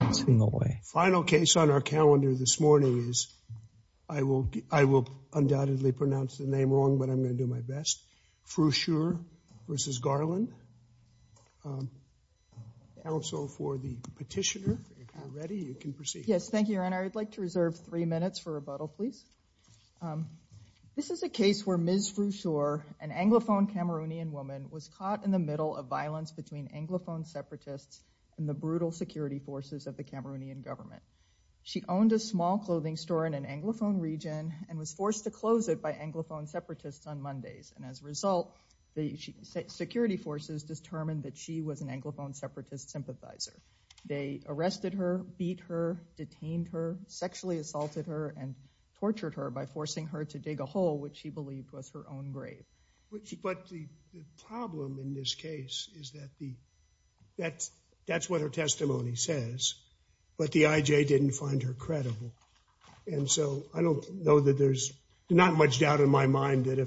This is a case where Ms. Fru Shure, an Anglophone Cameroonian woman, was caught in the middle of violence between Anglophone separatists and the brutal security forces of the Cameroonian government. She owned a small clothing store in an Anglophone region and was forced to close it by Anglophone separatists on Mondays, and as a result, the security forces determined that she was an Anglophone separatist sympathizer. They arrested her, beat her, detained her, sexually assaulted her, and tortured her by forcing her to dig a hole which she believed was her own grave. But the problem in this case is that that's what her testimony says, but the IJ didn't find her credible, and so I don't know that there's not much doubt in my mind that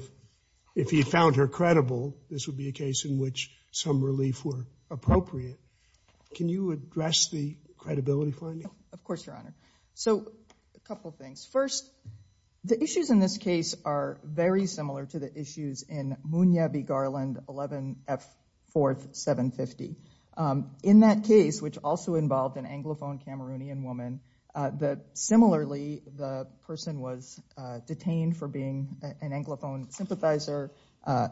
if he found her credible, this would be a case in which some relief were appropriate. Can you address the credibility finding? Of course, Your Honor. So a couple things. First, the issues in this case are very similar to the issues in Munya v. Garland, 11 F. 4th, 750. In that case, which also involved an Anglophone Cameroonian woman, similarly, the person was detained for being an Anglophone sympathizer,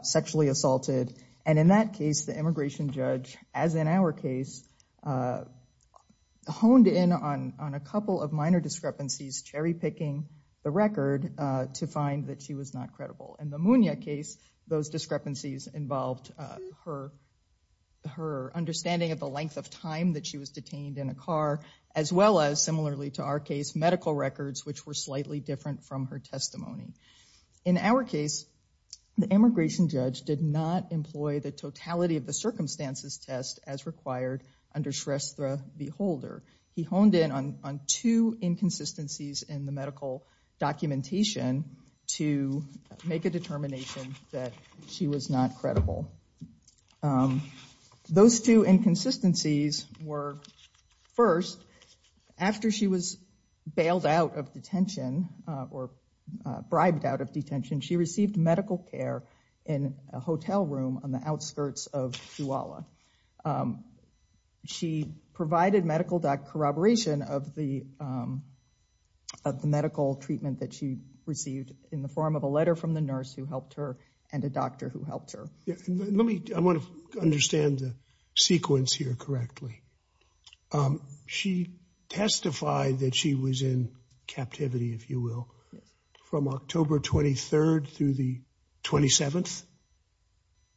sexually assaulted, and in that case, the immigration judge, as in our case, honed in on a couple of minor discrepancies, cherry-picking the record to find that she was not credible. In the Munya case, those discrepancies involved her understanding of the length of time that she was detained in a car, as well as, similarly to our case, medical records, which were slightly different from her testimony. In our case, the immigration judge did not employ the totality of the circumstances test as required under Shrestha v. Holder. He honed in on two inconsistencies in the medical documentation to make a determination that she was not credible. Those two inconsistencies were, first, after she was bailed out of detention or bribed out of detention, she received medical care in a hotel room on the outskirts of Chihuahua. She provided medical corroboration of the medical treatment that she received in the form of a letter from the nurse who helped her and a doctor who helped her. Let me, I want to understand the sequence here correctly. Um, she testified that she was in captivity, if you will, from October 23rd through the 27th?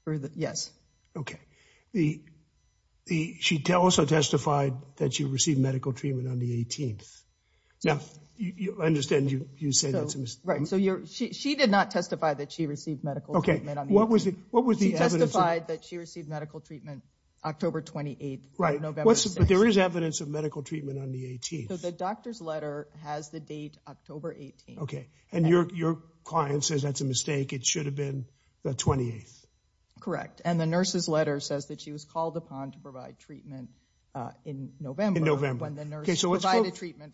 For the, yes. Okay. The, the, she also testified that she received medical treatment on the 18th. Now, you understand you, you say that's a mistake. Right, so you're, she, she did not testify that she received medical treatment. Okay, what was it, what was the evidence? She testified that received medical treatment October 28th. Right, but there is evidence of medical treatment on the 18th. So the doctor's letter has the date October 18th. Okay, and your, your client says that's a mistake. It should have been the 28th. Correct, and the nurse's letter says that she was called upon to provide treatment, uh, in November. Okay, so let's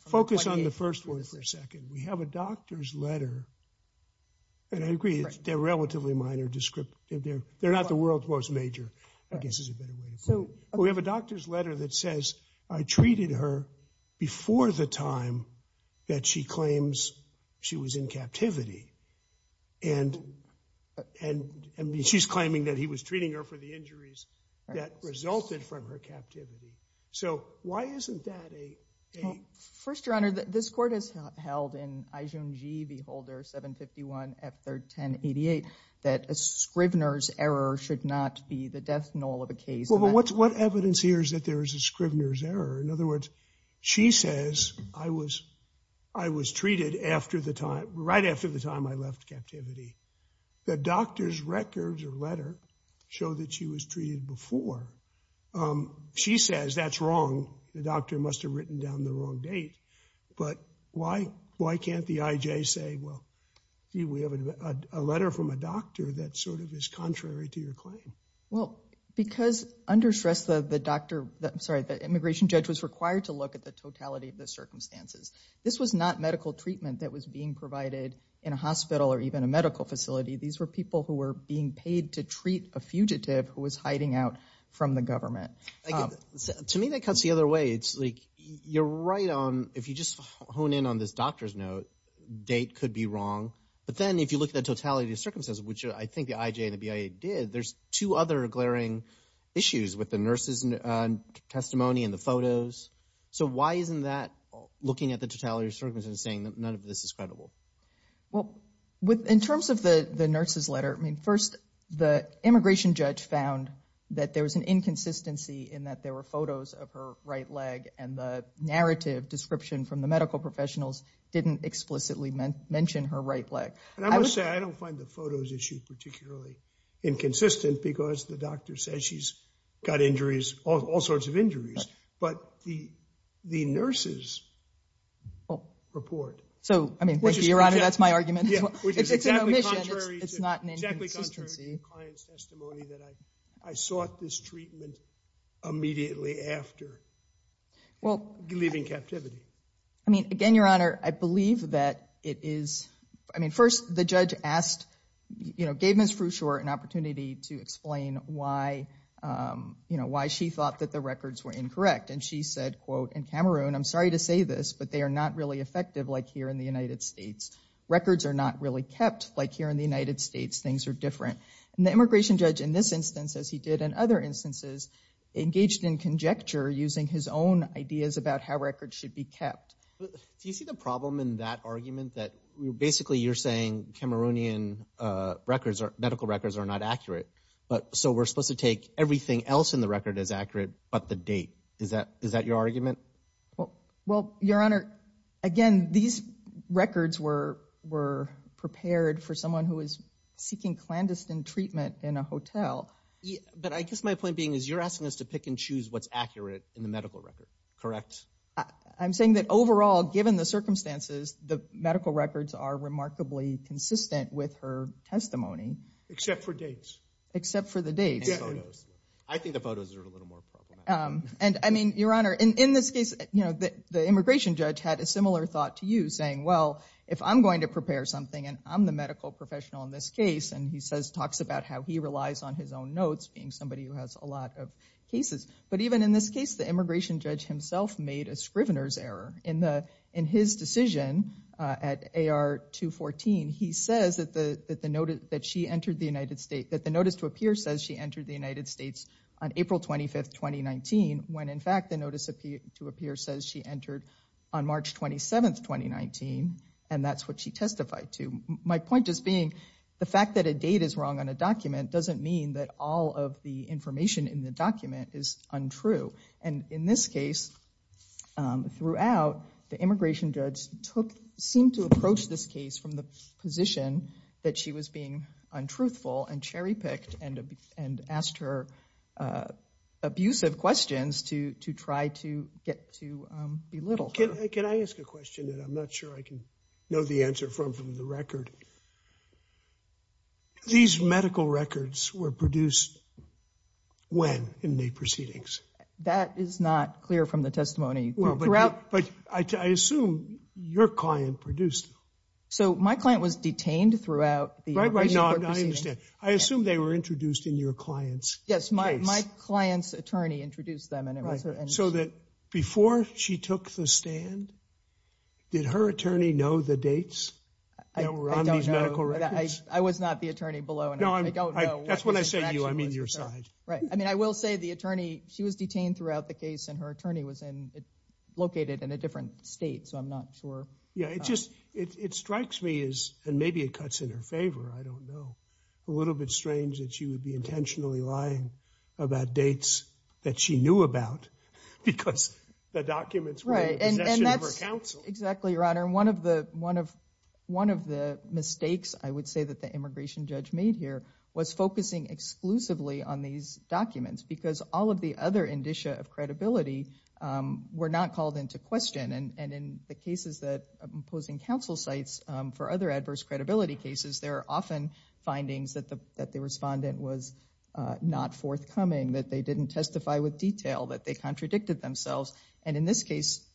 focus on the first one for a second. We have a doctor's letter, and I agree, they're relatively minor descriptive. They're, they're not the world's most major, I guess is a better way to put it. So we have a doctor's letter that says, I treated her before the time that she claims she was in captivity, and, and, and she's claiming that he was treating her for the injuries that resulted from her captivity. So why isn't that a, First Your Honor, this court has held in Ijunji v. Holder 751 F31088 that a Scrivener's error should not be the death knell of a case. Well, what's, what evidence here is that there is a Scrivener's error? In other words, she says I was, I was treated after the time, right after the time I left captivity. The doctor's records or letter show that she was treated before. Um, she says that's wrong. The doctor must have written down the wrong date, but why, why can't the IJ say, well, we have a letter from a doctor that sort of is contrary to your claim? Well, because, under stress, the, the doctor, I'm sorry, the immigration judge was required to look at the totality of the circumstances. This was not medical treatment that was being provided in a hospital or even a medical facility. These were people who were being paid to treat a fugitive who was hiding out from the government. To me, that cuts the other way. It's like, you're right on, if you just hone in on this doctor's note, date could be wrong, but then if you look at the totality of circumstances, which I think the IJ and the BIA did, there's two other glaring issues with the nurse's testimony and the photos. So, why isn't that looking at the totality of circumstances saying that none of this is credible? Well, with, in terms of the, the nurse's letter, I mean, first, the immigration judge found that there was an inconsistency in that there were photos of her right leg and the narrative description from the medical professionals didn't explicitly mention her right leg. And I must say, I don't find the photos issue particularly inconsistent because the doctor says she's got injuries, all sorts of injuries, but the, the nurse's report. So, I mean, thank you, Your Honor, that's my argument. It's an omission, it's not an inconsistency. It's true in your client's testimony that I, I sought this treatment immediately after leaving captivity. I mean, again, Your Honor, I believe that it is, I mean, first, the judge asked, you know, gave Ms. Frewshore an opportunity to explain why, you know, why she thought that the records were incorrect. And she said, quote, in Cameroon, I'm sorry to say this, but they are not really effective like here in the United States. Records are not really kept like here in the United States. Things are different. And the immigration judge in this instance, as he did in other instances, engaged in conjecture using his own ideas about how records should be kept. Do you see the problem in that argument that basically you're saying Cameroonian records or medical records are not accurate, but, so we're supposed to take everything else in the record as accurate, but the date. Is that, is that your argument? Well, Your Honor, again, these records were, were prepared for someone who is seeking clandestine treatment in a hotel. But I guess my point being is you're asking us to pick and choose what's accurate in the medical record, correct? I'm saying that overall, given the circumstances, the medical records are remarkably consistent with her testimony. Except for dates. Except for the dates. I think the photos are a little more problematic. And I mean, Your Honor, in this case, you know, the immigration judge had a similar thought to you saying, well, if I'm going to prepare something, and I'm the medical professional in this case, and he says, talks about how he relies on his own notes being somebody who has a lot of cases. But even in this case, the immigration judge himself made a Scrivener's error. In the, in his decision at AR 214, he says that the, that the notice, that she entered the United States, that the notice to appear says she entered the United States on April 25th, 2019, when in fact, the notice to appear says she entered on March 27th, 2019. And that's what she testified to. My point just being, the fact that a date is wrong on a document doesn't mean that all of the information in the document is untrue. And in this case, throughout, the immigration judge took, seemed to approach this case from the position that she was being untruthful and cherry-picked and, and asked her abusive questions to, to try to get to belittle her. Can I ask a question that I'm not sure I can know the answer from, from the record? These medical records were produced when, in the proceedings? That is not clear from the testimony. Well, but, but I, I assume your client produced So my client was detained throughout the... Right, right, no, I understand. I assume they were introduced in your client's case. Yes, my, my client's attorney introduced them and it was... So that before she took the stand, did her attorney know the dates that were on these medical records? I was not the attorney below. No, I don't know. That's when I say you, I mean your side. Right. I mean, I will say the attorney, she was detained throughout the case and her attorney was located in a different state, so I'm not sure. Yeah, it just, it, it strikes me as, and maybe it cuts in her favor, I don't know, a little bit strange that she would be intentionally lying about dates that she knew about because the documents were in possession of her counsel. Exactly, your honor. And one of the, one of, one of the mistakes I would say that the immigration judge made here was focusing exclusively on these documents because all of the other of credibility were not called into question and, and in the cases that I'm posing counsel sites for other adverse credibility cases, there are often findings that the, that the respondent was not forthcoming, that they didn't testify with detail, that they contradicted themselves. And in this case,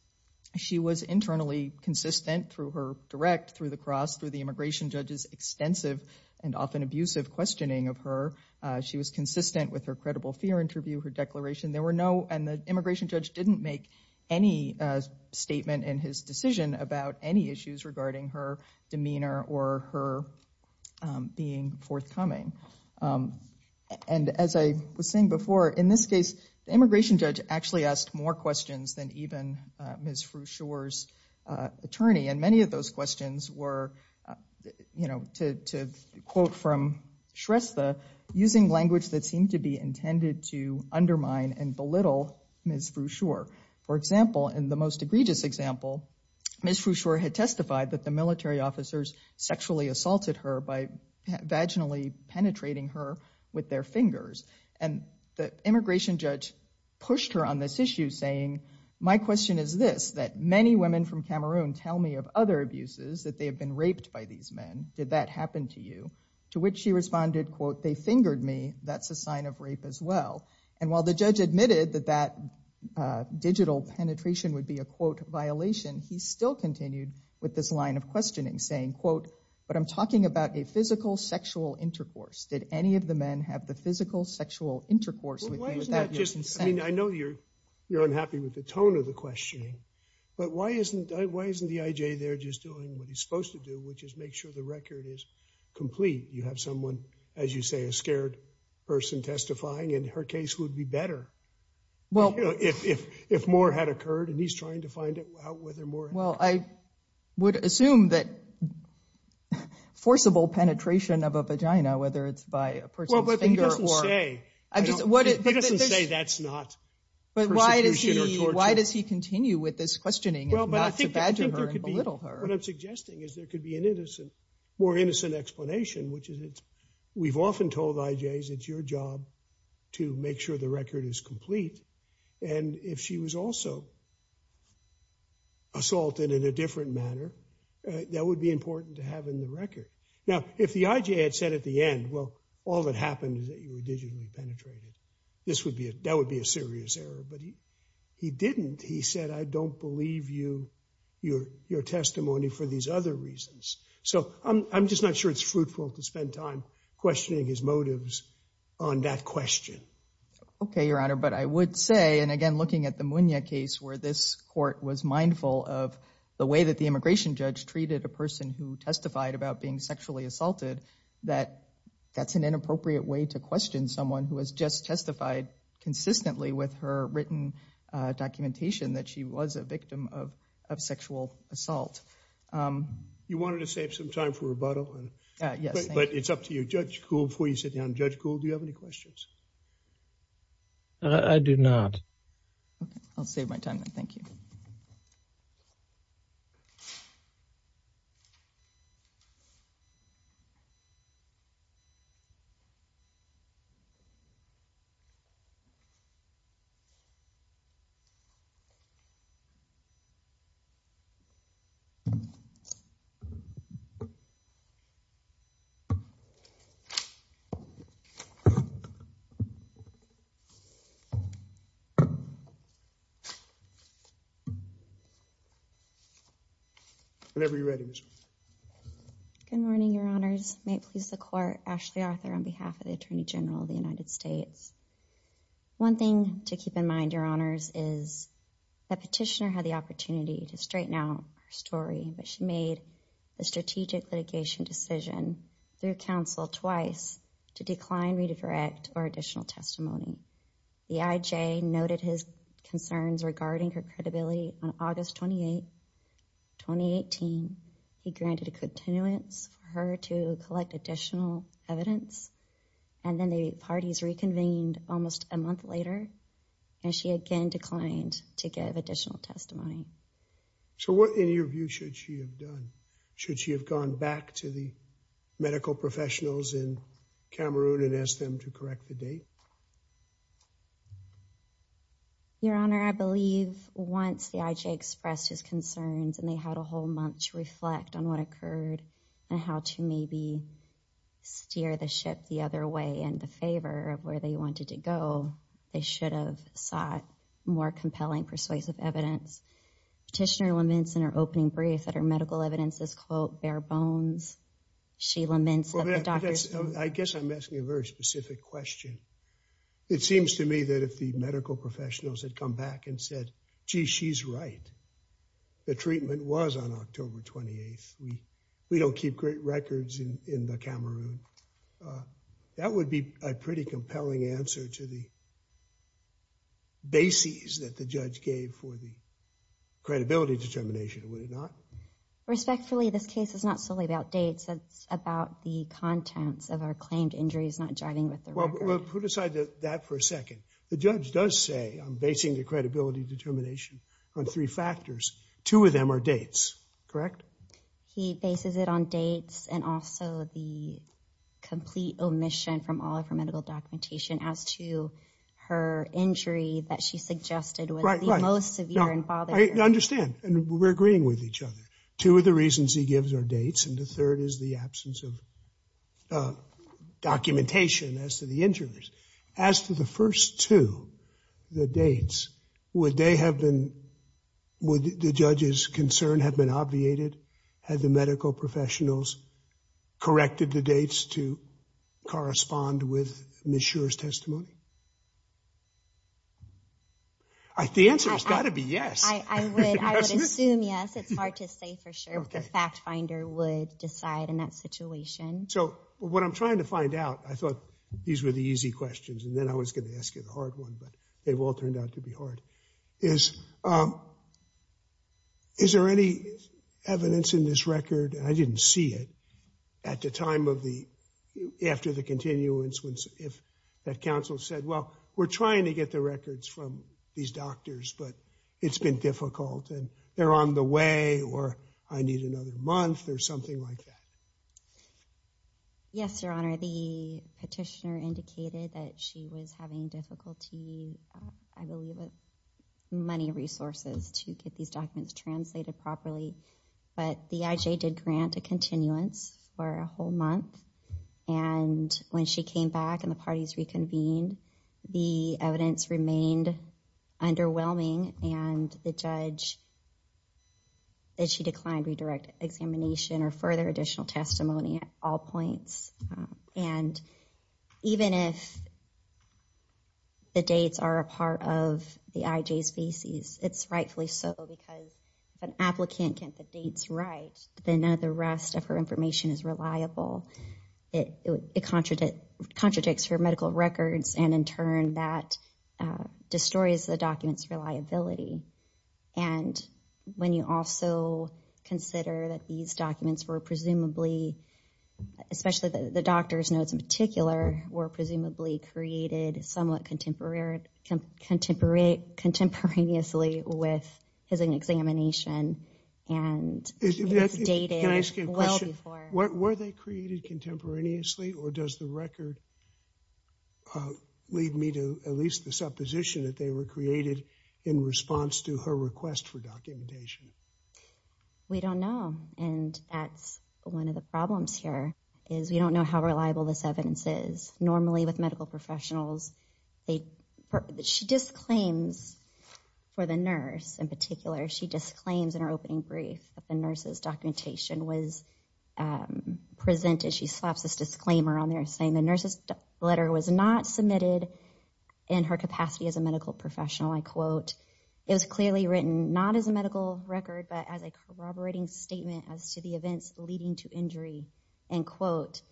she was internally consistent through her direct, through the cross, through the immigration judge's extensive and often abusive questioning of her. She was consistent with her credible fear interview, her declaration. There were no, and the immigration judge didn't make any statement in his decision about any issues regarding her demeanor or her being forthcoming. And as I was saying before, in this case, the immigration judge actually asked more questions than even Ms. Fruchour's attorney. And many of those questions were, you know, to, to question Ms. Fruchour in language that seemed to be intended to undermine and belittle Ms. Fruchour. For example, in the most egregious example, Ms. Fruchour had testified that the military officers sexually assaulted her by vaginally penetrating her with their fingers. And the immigration judge pushed her on this issue saying, my question is this, that many women from Cameroon tell me of other abuses, that they have been raped by these men. Did that happen to you? To which she responded, they fingered me, that's a sign of rape as well. And while the judge admitted that that digital penetration would be a, quote, violation, he still continued with this line of questioning saying, quote, but I'm talking about a physical sexual intercourse. Did any of the men have the physical sexual intercourse? I mean, I know you're, you're unhappy with the tone of the questioning, but why isn't, why isn't the IJ there just doing what he's supposed to do, which is make sure the you say, a scared person testifying, and her case would be better. Well, you know, if, if, if more had occurred and he's trying to find out whether more. Well, I would assume that forcible penetration of a vagina, whether it's by a person's finger or. Well, but he doesn't say, what, he doesn't say that's not. But why does he, why does he continue with this questioning? Well, but I think there could be, what I'm suggesting is there could be an innocent, more innocent explanation, which is it's, we've often told IJs it's your job to make sure the record is complete. And if she was also assaulted in a different manner, that would be important to have in the record. Now, if the IJ had said at the end, well, all that happened is that you were digitally penetrated. This would be a, that would be a serious error, but he, he didn't, he said, I don't believe you, your, your testimony for these other reasons. So I'm, I'm just not sure it's fruitful to spend time questioning his motives on that question. Okay. Your Honor, but I would say, and again, looking at the Munoz case, where this court was mindful of the way that the immigration judge treated a person who testified about being sexually assaulted, that that's an inappropriate way to question someone who has just testified consistently with her written documentation that she was a victim of, of sexual assault. You wanted to save some time for rebuttal, but it's up to you, Judge Kuhl, before you sit down. Judge Kuhl, do you have any questions? I do not. Okay. I'll be ready. Good morning, Your Honors. May it please the court, Ashley Arthur on behalf of the Attorney General of the United States. One thing to keep in mind, Your Honors, is the petitioner had the opportunity to straighten out her story, but she made a strategic litigation decision through counsel twice to decline, redirect, or additional testimony. The IJ noted his concerns regarding her credibility on August 28, 2018. He granted a continuance for her to collect additional evidence, and then the parties reconvened almost a month later, and she again declined to give additional testimony. So what, in your view, should she have done? Should she have gone back to the medical professionals in Cameroon and asked them to correct the date? Your Honor, I believe once the IJ expressed his concerns and they had a whole month to reflect on what occurred and how to maybe steer the ship the other way in the favor of where they wanted to go, they should have sought more compelling persuasive evidence. Petitioner laments in her opening brief that her medical evidence is, quote, bare bones. I guess I'm asking a very specific question. It seems to me that if the medical professionals had come back and said, gee, she's right. The treatment was on October 28. We don't keep great compelling answer to the bases that the judge gave for the credibility determination, would it not? Respectfully, this case is not solely about dates. It's about the contents of our claimed injuries, not jiving with the record. Well, put aside that for a second. The judge does say I'm basing the credibility determination on three factors. Two of them are dates, correct? He bases it on dates and also the complete omission from all of her medical documentation as to her injury that she suggested was the most severe and bothering. I understand, and we're agreeing with each other. Two of the reasons he gives are dates, and the third is the absence of documentation as to the injuries. As to the first two, the dates, would they have been, would the judge's concern have been obviated? Had the medical professionals corrected the dates to correspond with Ms. Schur's testimony? The answer has got to be yes. I would assume yes. It's hard to say for sure if the fact finder would decide in that situation. So what I'm trying to find out, I thought these were the easy questions, and then I was going to ask you the hard one, but they've all turned out to be hard, is, is there any evidence in this record, and I didn't see it, at the time of the, after the continuance, if that counsel said, well, we're trying to get the records from these doctors, but it's been difficult, and they're on the way, or I need another month, or something like that. Yes, Your Honor, the petitioner indicated that she was having difficulty, I believe, with money resources to get these documents translated properly, but the IJ did grant a continuance for a whole month, and when she came back and the parties reconvened, the evidence remained underwhelming, and the judge, that she declined redirect examination or further additional testimony at all points, and even if the dates are a part of the IJ's bases, it's rightfully so, because if an applicant can't get the dates right, then none of the rest of her information is reliable. It contradicts her medical records, and in turn, that destroys the document's reliability, and when you also consider that these documents were presumably, especially the doctor's notes in particular, were presumably created somewhat contemporaneously with his examination, and were they created contemporaneously, or does the record lead me to at least the supposition that they were created in response to her request for testimony? We don't know, and that's one of the problems here, is we don't know how reliable this evidence is. Normally with medical professionals, she disclaims for the nurse in particular, she disclaims in her opening brief that the nurse's documentation was presented, she slaps this disclaimer on there saying the nurse's letter was not submitted in her capacity as a medical professional. I quote, it was clearly written not as a medical record, but as a corroborating statement as to the events leading to injury, end quote,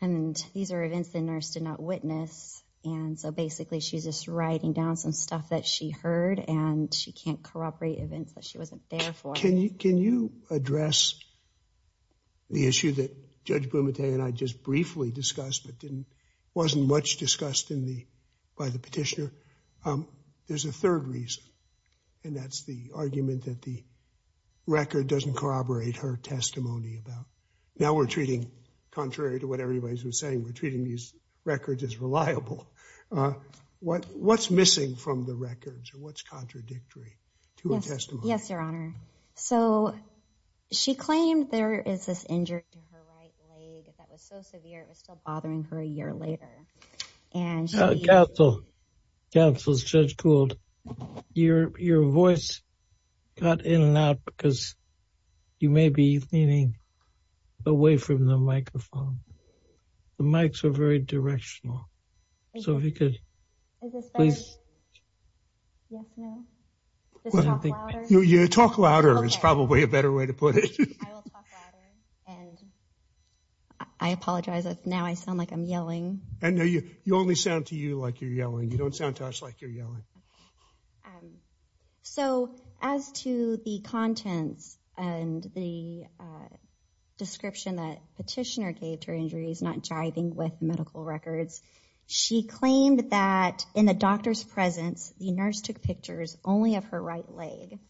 and these are events the nurse did not witness, and so basically she's just writing down some stuff that she heard, and she can't corroborate events that she wasn't there for. Can you address the issue that Judge Blumenthal and I just briefly discussed, but didn't, wasn't much discussed in the, by the petitioner? There's a third reason, and that's the argument that the record doesn't corroborate her testimony about, now we're treating, contrary to what everybody's been saying, we're treating these records as reliable. What's missing from the records, or what's contradictory to her testimony? Yes, your honor, so she claimed there is this injury to her right leg that was so severe, it was still bothering her a year later. And counsel, counsel, Judge Gould, your voice got in and out because you may be leaning away from the microphone. The mics are very directional, so if you could, please. Yes, no, just talk louder. Yeah, talk louder is probably a better way to put it. I will talk louder, and I apologize if now I sound like I'm yelling. No, you only sound to you like you're yelling. You don't sound to us like you're yelling. So, as to the contents and the description that petitioner gave to her injuries, not jiving with medical records, she claimed that in the doctor's presence, the nurse took pictures only of her right leg.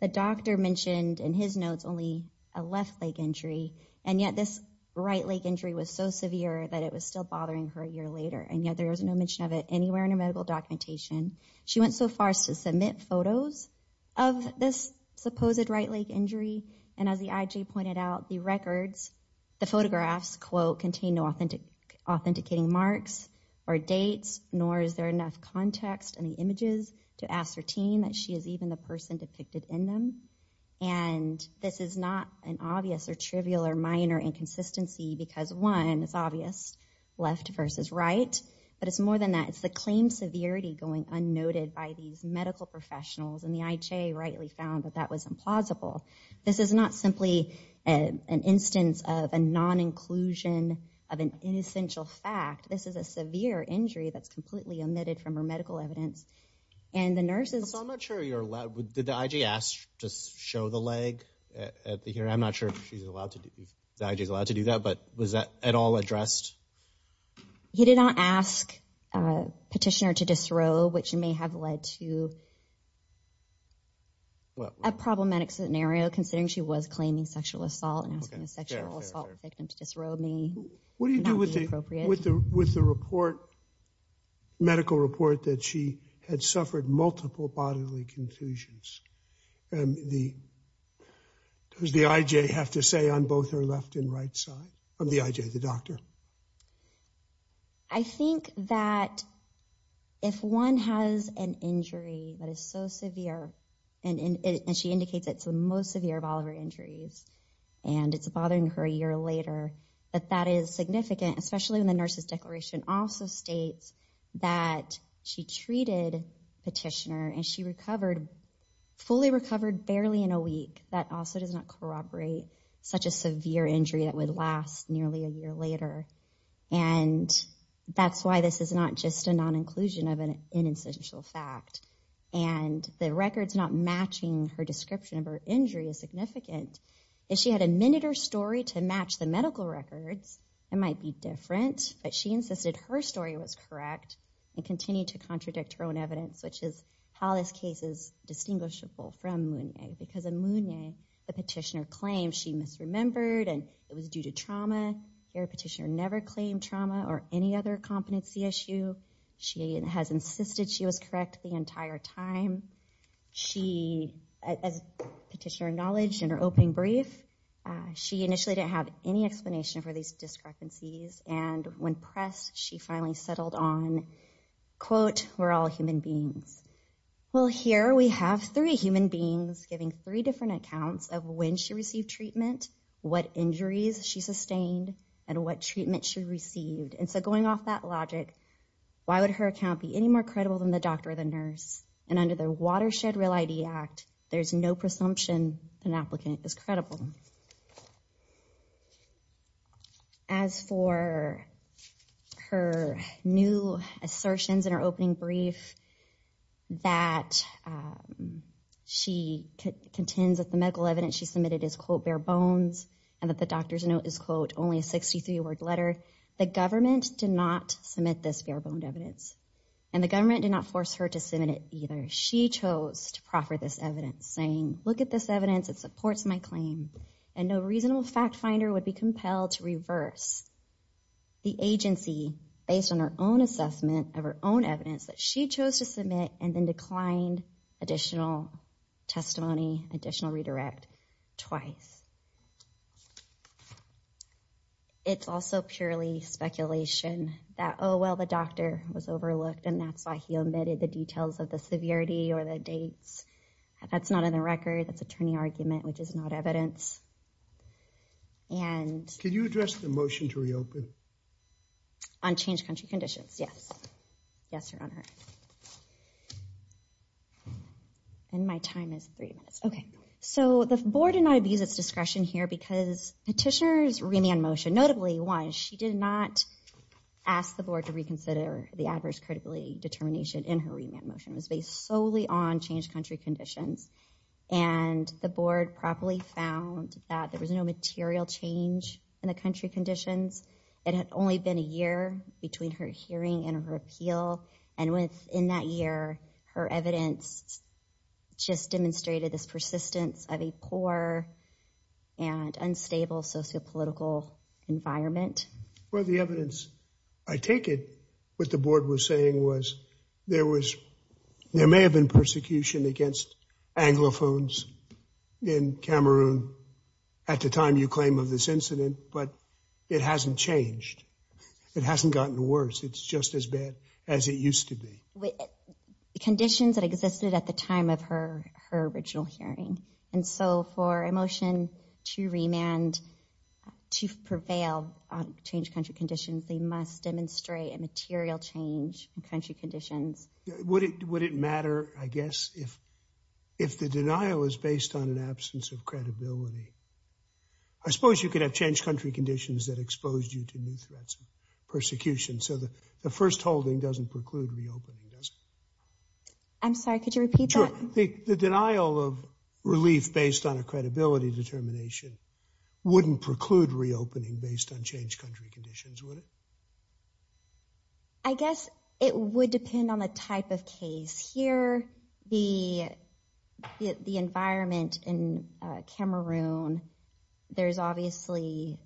The doctor mentioned in his notes only a left leg injury, and yet this right leg injury was so severe that it was still bothering her a year later, and yet there was no mention of it anywhere in her medical documentation. She went so far as to submit photos of this supposed right leg injury, and as the IJ pointed out, the records, the photographs, quote, contain no authenticating marks or dates, nor is there enough context in the images to ascertain that she is even the person depicted in them, and this is not an obvious or trivial or minor inconsistency because, one, it's obvious, left versus right, but it's more than that. It's the claim severity going unnoted by these medical professionals, and the IJ rightly found that that was implausible. This is not simply an instance of a non-inclusion of an inessential fact. This is a severe injury that's completely omitted from her medical evidence, and the nurses... So I'm not sure you're allowed... Did the IJ ask to show the leg at the hearing? I'm not sure she's allowed to do... The IJ's allowed to do that, but was that at all addressed? He did not ask a petitioner to disrobe, which may have led to a problematic scenario, considering she was claiming sexual assault, and asking a sexual assault victim to disrobe may not be appropriate. What do you do with the report medical report that she had suffered multiple bodily confusions? Does the IJ have to say on both her left and right side? The IJ, the doctor. I think that if one has an injury that is so severe, and she indicates it's the most severe of all of her injuries, and it's bothering her a year later, that that is significant, especially when the nurse's declaration also states that she treated petitioner, and she fully recovered barely in a week. That also does not corroborate such a severe injury that would last nearly a year later, and that's why this is not just a non-inclusion of an inessential fact, and the records not matching her description of her injury is significant. If she had admitted her story to match the medical records, it might be different, but she insisted her story was correct, and continued to contradict her own evidence, which is how this case is distinguishable from Mounier, because in Mounier, the petitioner claimed she misremembered, and it was due to trauma. Here, a petitioner never claimed trauma or any other competency issue. She has insisted she was initially didn't have any explanation for these discrepancies, and when pressed, she finally settled on, quote, we're all human beings. Well, here we have three human beings giving three different accounts of when she received treatment, what injuries she sustained, and what treatment she received, and so going off that logic, why would her account be any more credible than the doctor or the nurse, and under the Watershed Real ID Act, there's no presumption an applicant is human. As for her new assertions in her opening brief, that she contends that the medical evidence she submitted is, quote, bare bones, and that the doctor's note is, quote, only a 63-word letter, the government did not submit this bare-boned evidence, and the government did not force her to submit it either. She chose to proffer this evidence, saying, look at this evidence, it supports my claim, and no reasonable fact finder would be compelled to reverse the agency based on her own assessment of her own evidence that she chose to submit, and then declined additional testimony, additional redirect twice. It's also purely speculation that, oh, well, the doctor was overlooked, and that's why he omitted the details of the severity or the dates. That's not in the record, that's attorney argument, which is not evidence, and... Can you address the motion to reopen? On changed country conditions, yes. Yes, Your Honor. And my time is three minutes. Okay, so the board did not abuse its discretion here, because petitioner's remand motion, notably why she did not ask the board to reconsider the adverse credibility determination in her remand motion, was based solely on changed country conditions, and the board properly found that there was no material change in the country conditions. It had only been a year between her hearing and her appeal, and within that year, her evidence just demonstrated this persistence of a poor and unstable sociopolitical environment. Well, the evidence, I take it, what the board was saying was there may have been persecution against anglophones in Cameroon at the time you claim of this incident, but it hasn't changed. It hasn't gotten worse. It's just as bad as it used to be. Conditions that existed at the time of her original hearing, and so for a motion to remand to prevail on changed country conditions, they must demonstrate a material change in country conditions. Would it matter, I guess, if the denial is based on an absence of credibility? I suppose you could have changed country conditions that exposed you to new threats of persecution, so the first holding doesn't preclude reopening, does it? I'm sorry, could you repeat that? The denial of relief based on a credibility determination wouldn't preclude reopening based on changed country conditions, would it? I guess it would depend on the type of case. Here, the environment in Cameroon, there's obviously,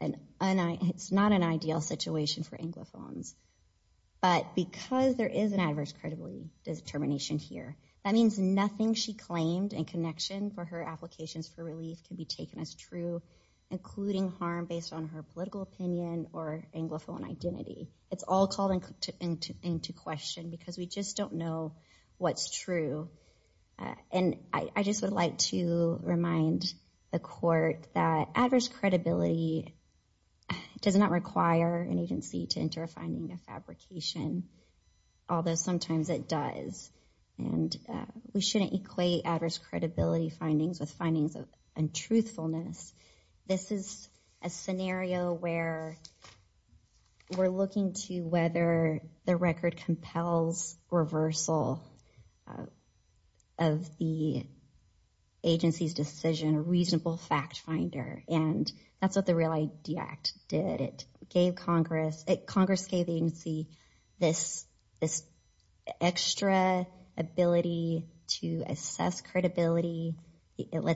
it's not an ideal situation for anglophones, but because there is an adverse credibility determination here, that means nothing she claimed in connection for her taken as true, including harm based on her political opinion or anglophone identity. It's all called into question because we just don't know what's true, and I just would like to remind the court that adverse credibility does not require an agency to enter a finding of fabrication, although sometimes it does, and we shouldn't equate adverse credibility findings with findings of untruthfulness. This is a scenario where we're looking to whether the record compels reversal of the agency's decision, a reasonable fact finder, and that's what the let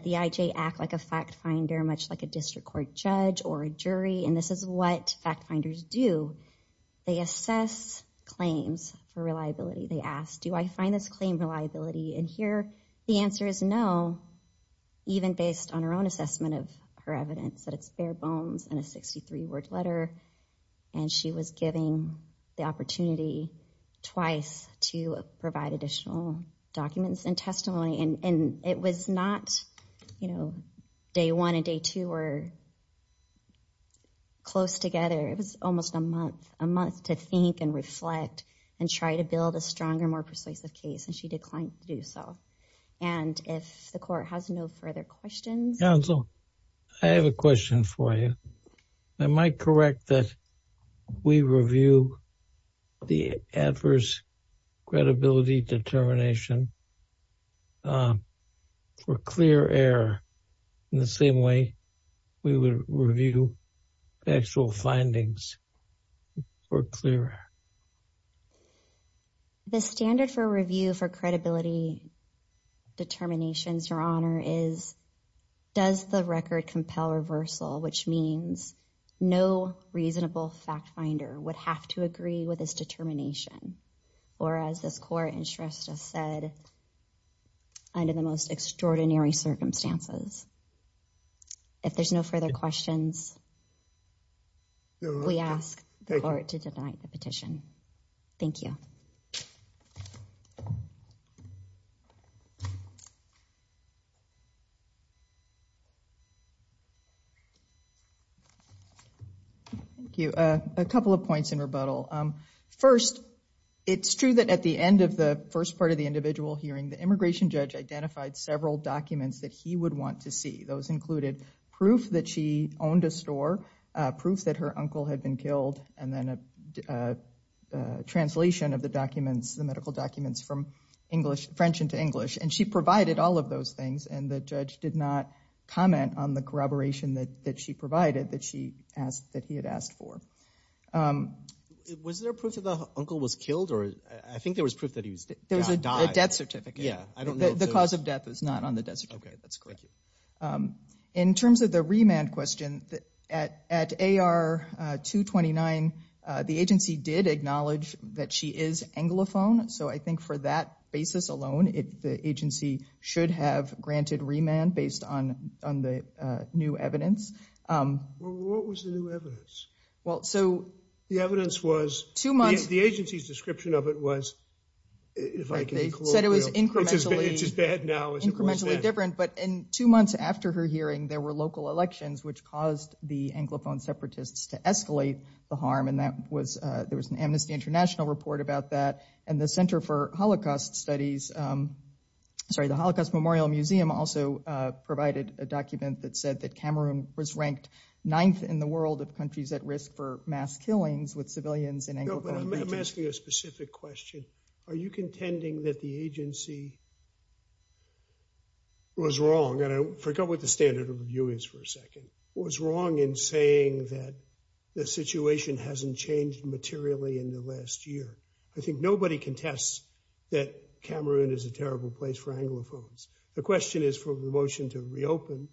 the IJ act like a fact finder, much like a district court judge or a jury, and this is what fact finders do. They assess claims for reliability. They ask, do I find this claim reliability? And here, the answer is no, even based on her own assessment of her evidence, that it's bare bones and a 63-word letter, and she was given the opportunity twice to not, you know, day one and day two were close together. It was almost a month to think and reflect and try to build a stronger, more persuasive case, and she declined to do so, and if the court has no further questions. Counsel, I have a question for you. Am I correct that we review the adverse credibility determination for clear air in the same way we would review actual findings for clear air? The standard for review for credibility would have to agree with this determination, or as this court has just said, under the most extraordinary circumstances. If there's no further questions, we ask the court to deny the petition. Thank you. Thank you. A couple of points in rebuttal. First, it's true that at the end of the first part of the individual hearing, the immigration judge identified several documents that he would want to see. Those included proof that she owned a store, proof that her uncle had been killed, and then a translation of the documents, the medical documents from French into English, and she provided all of those things, and the judge did not comment on the corroboration that she provided that he had asked for. Was there proof that the uncle was killed, or I think there was proof that he died? There's a death certificate. Yeah, I don't know. The cause of death is not on the death certificate. Okay, that's correct. In terms of the remand question, at AR 229, the agency did acknowledge that she is anglophone, so I think for that basis alone, the agency should have granted remand based on the new evidence. What was the new evidence? The evidence was, the agency's description of it was, if I can recall, it's as bad now as it was different, but in two months after her hearing, there were local elections which caused the anglophone separatists to escalate the harm, and that was, there was an Amnesty International report about that, and the Center for Holocaust Studies, sorry, the Holocaust Memorial Museum also provided a document that said that Cameroon was ranked ninth in the world of countries at risk for mass killings with civilians in anglophone countries. I'm asking a specific question. Are you contending that the agency was wrong, and I forgot what the standard of review is for a second, was wrong in saying that the situation hasn't changed materially in the last year? I think nobody contests that Cameroon is a terrible place for anglophones. The question is for the motion to reopen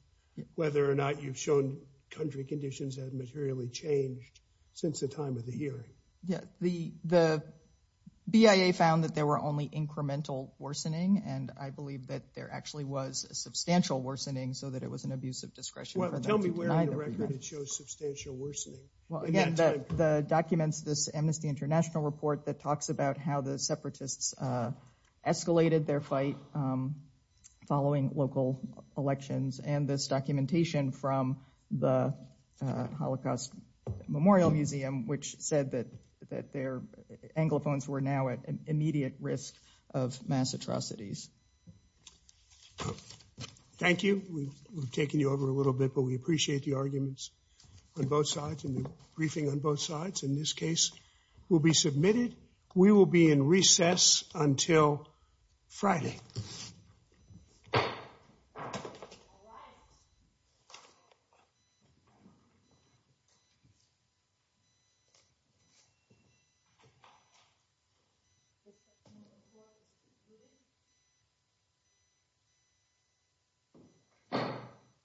whether or not you've shown country conditions have materially changed since the hearing. Yeah, the BIA found that there were only incremental worsening, and I believe that there actually was a substantial worsening so that it was an abuse of discretion. Tell me where on the record it shows substantial worsening. Well, again, the documents, this Amnesty International report that talks about how the separatists escalated their fight following local elections and this documentation from the Holocaust Memorial Museum, which said that their anglophones were now at immediate risk of mass atrocities. Thank you. We've taken you over a little bit, but we appreciate the arguments on both sides and the briefing on both sides in this case will be submitted. We will be in recess until Friday. All right.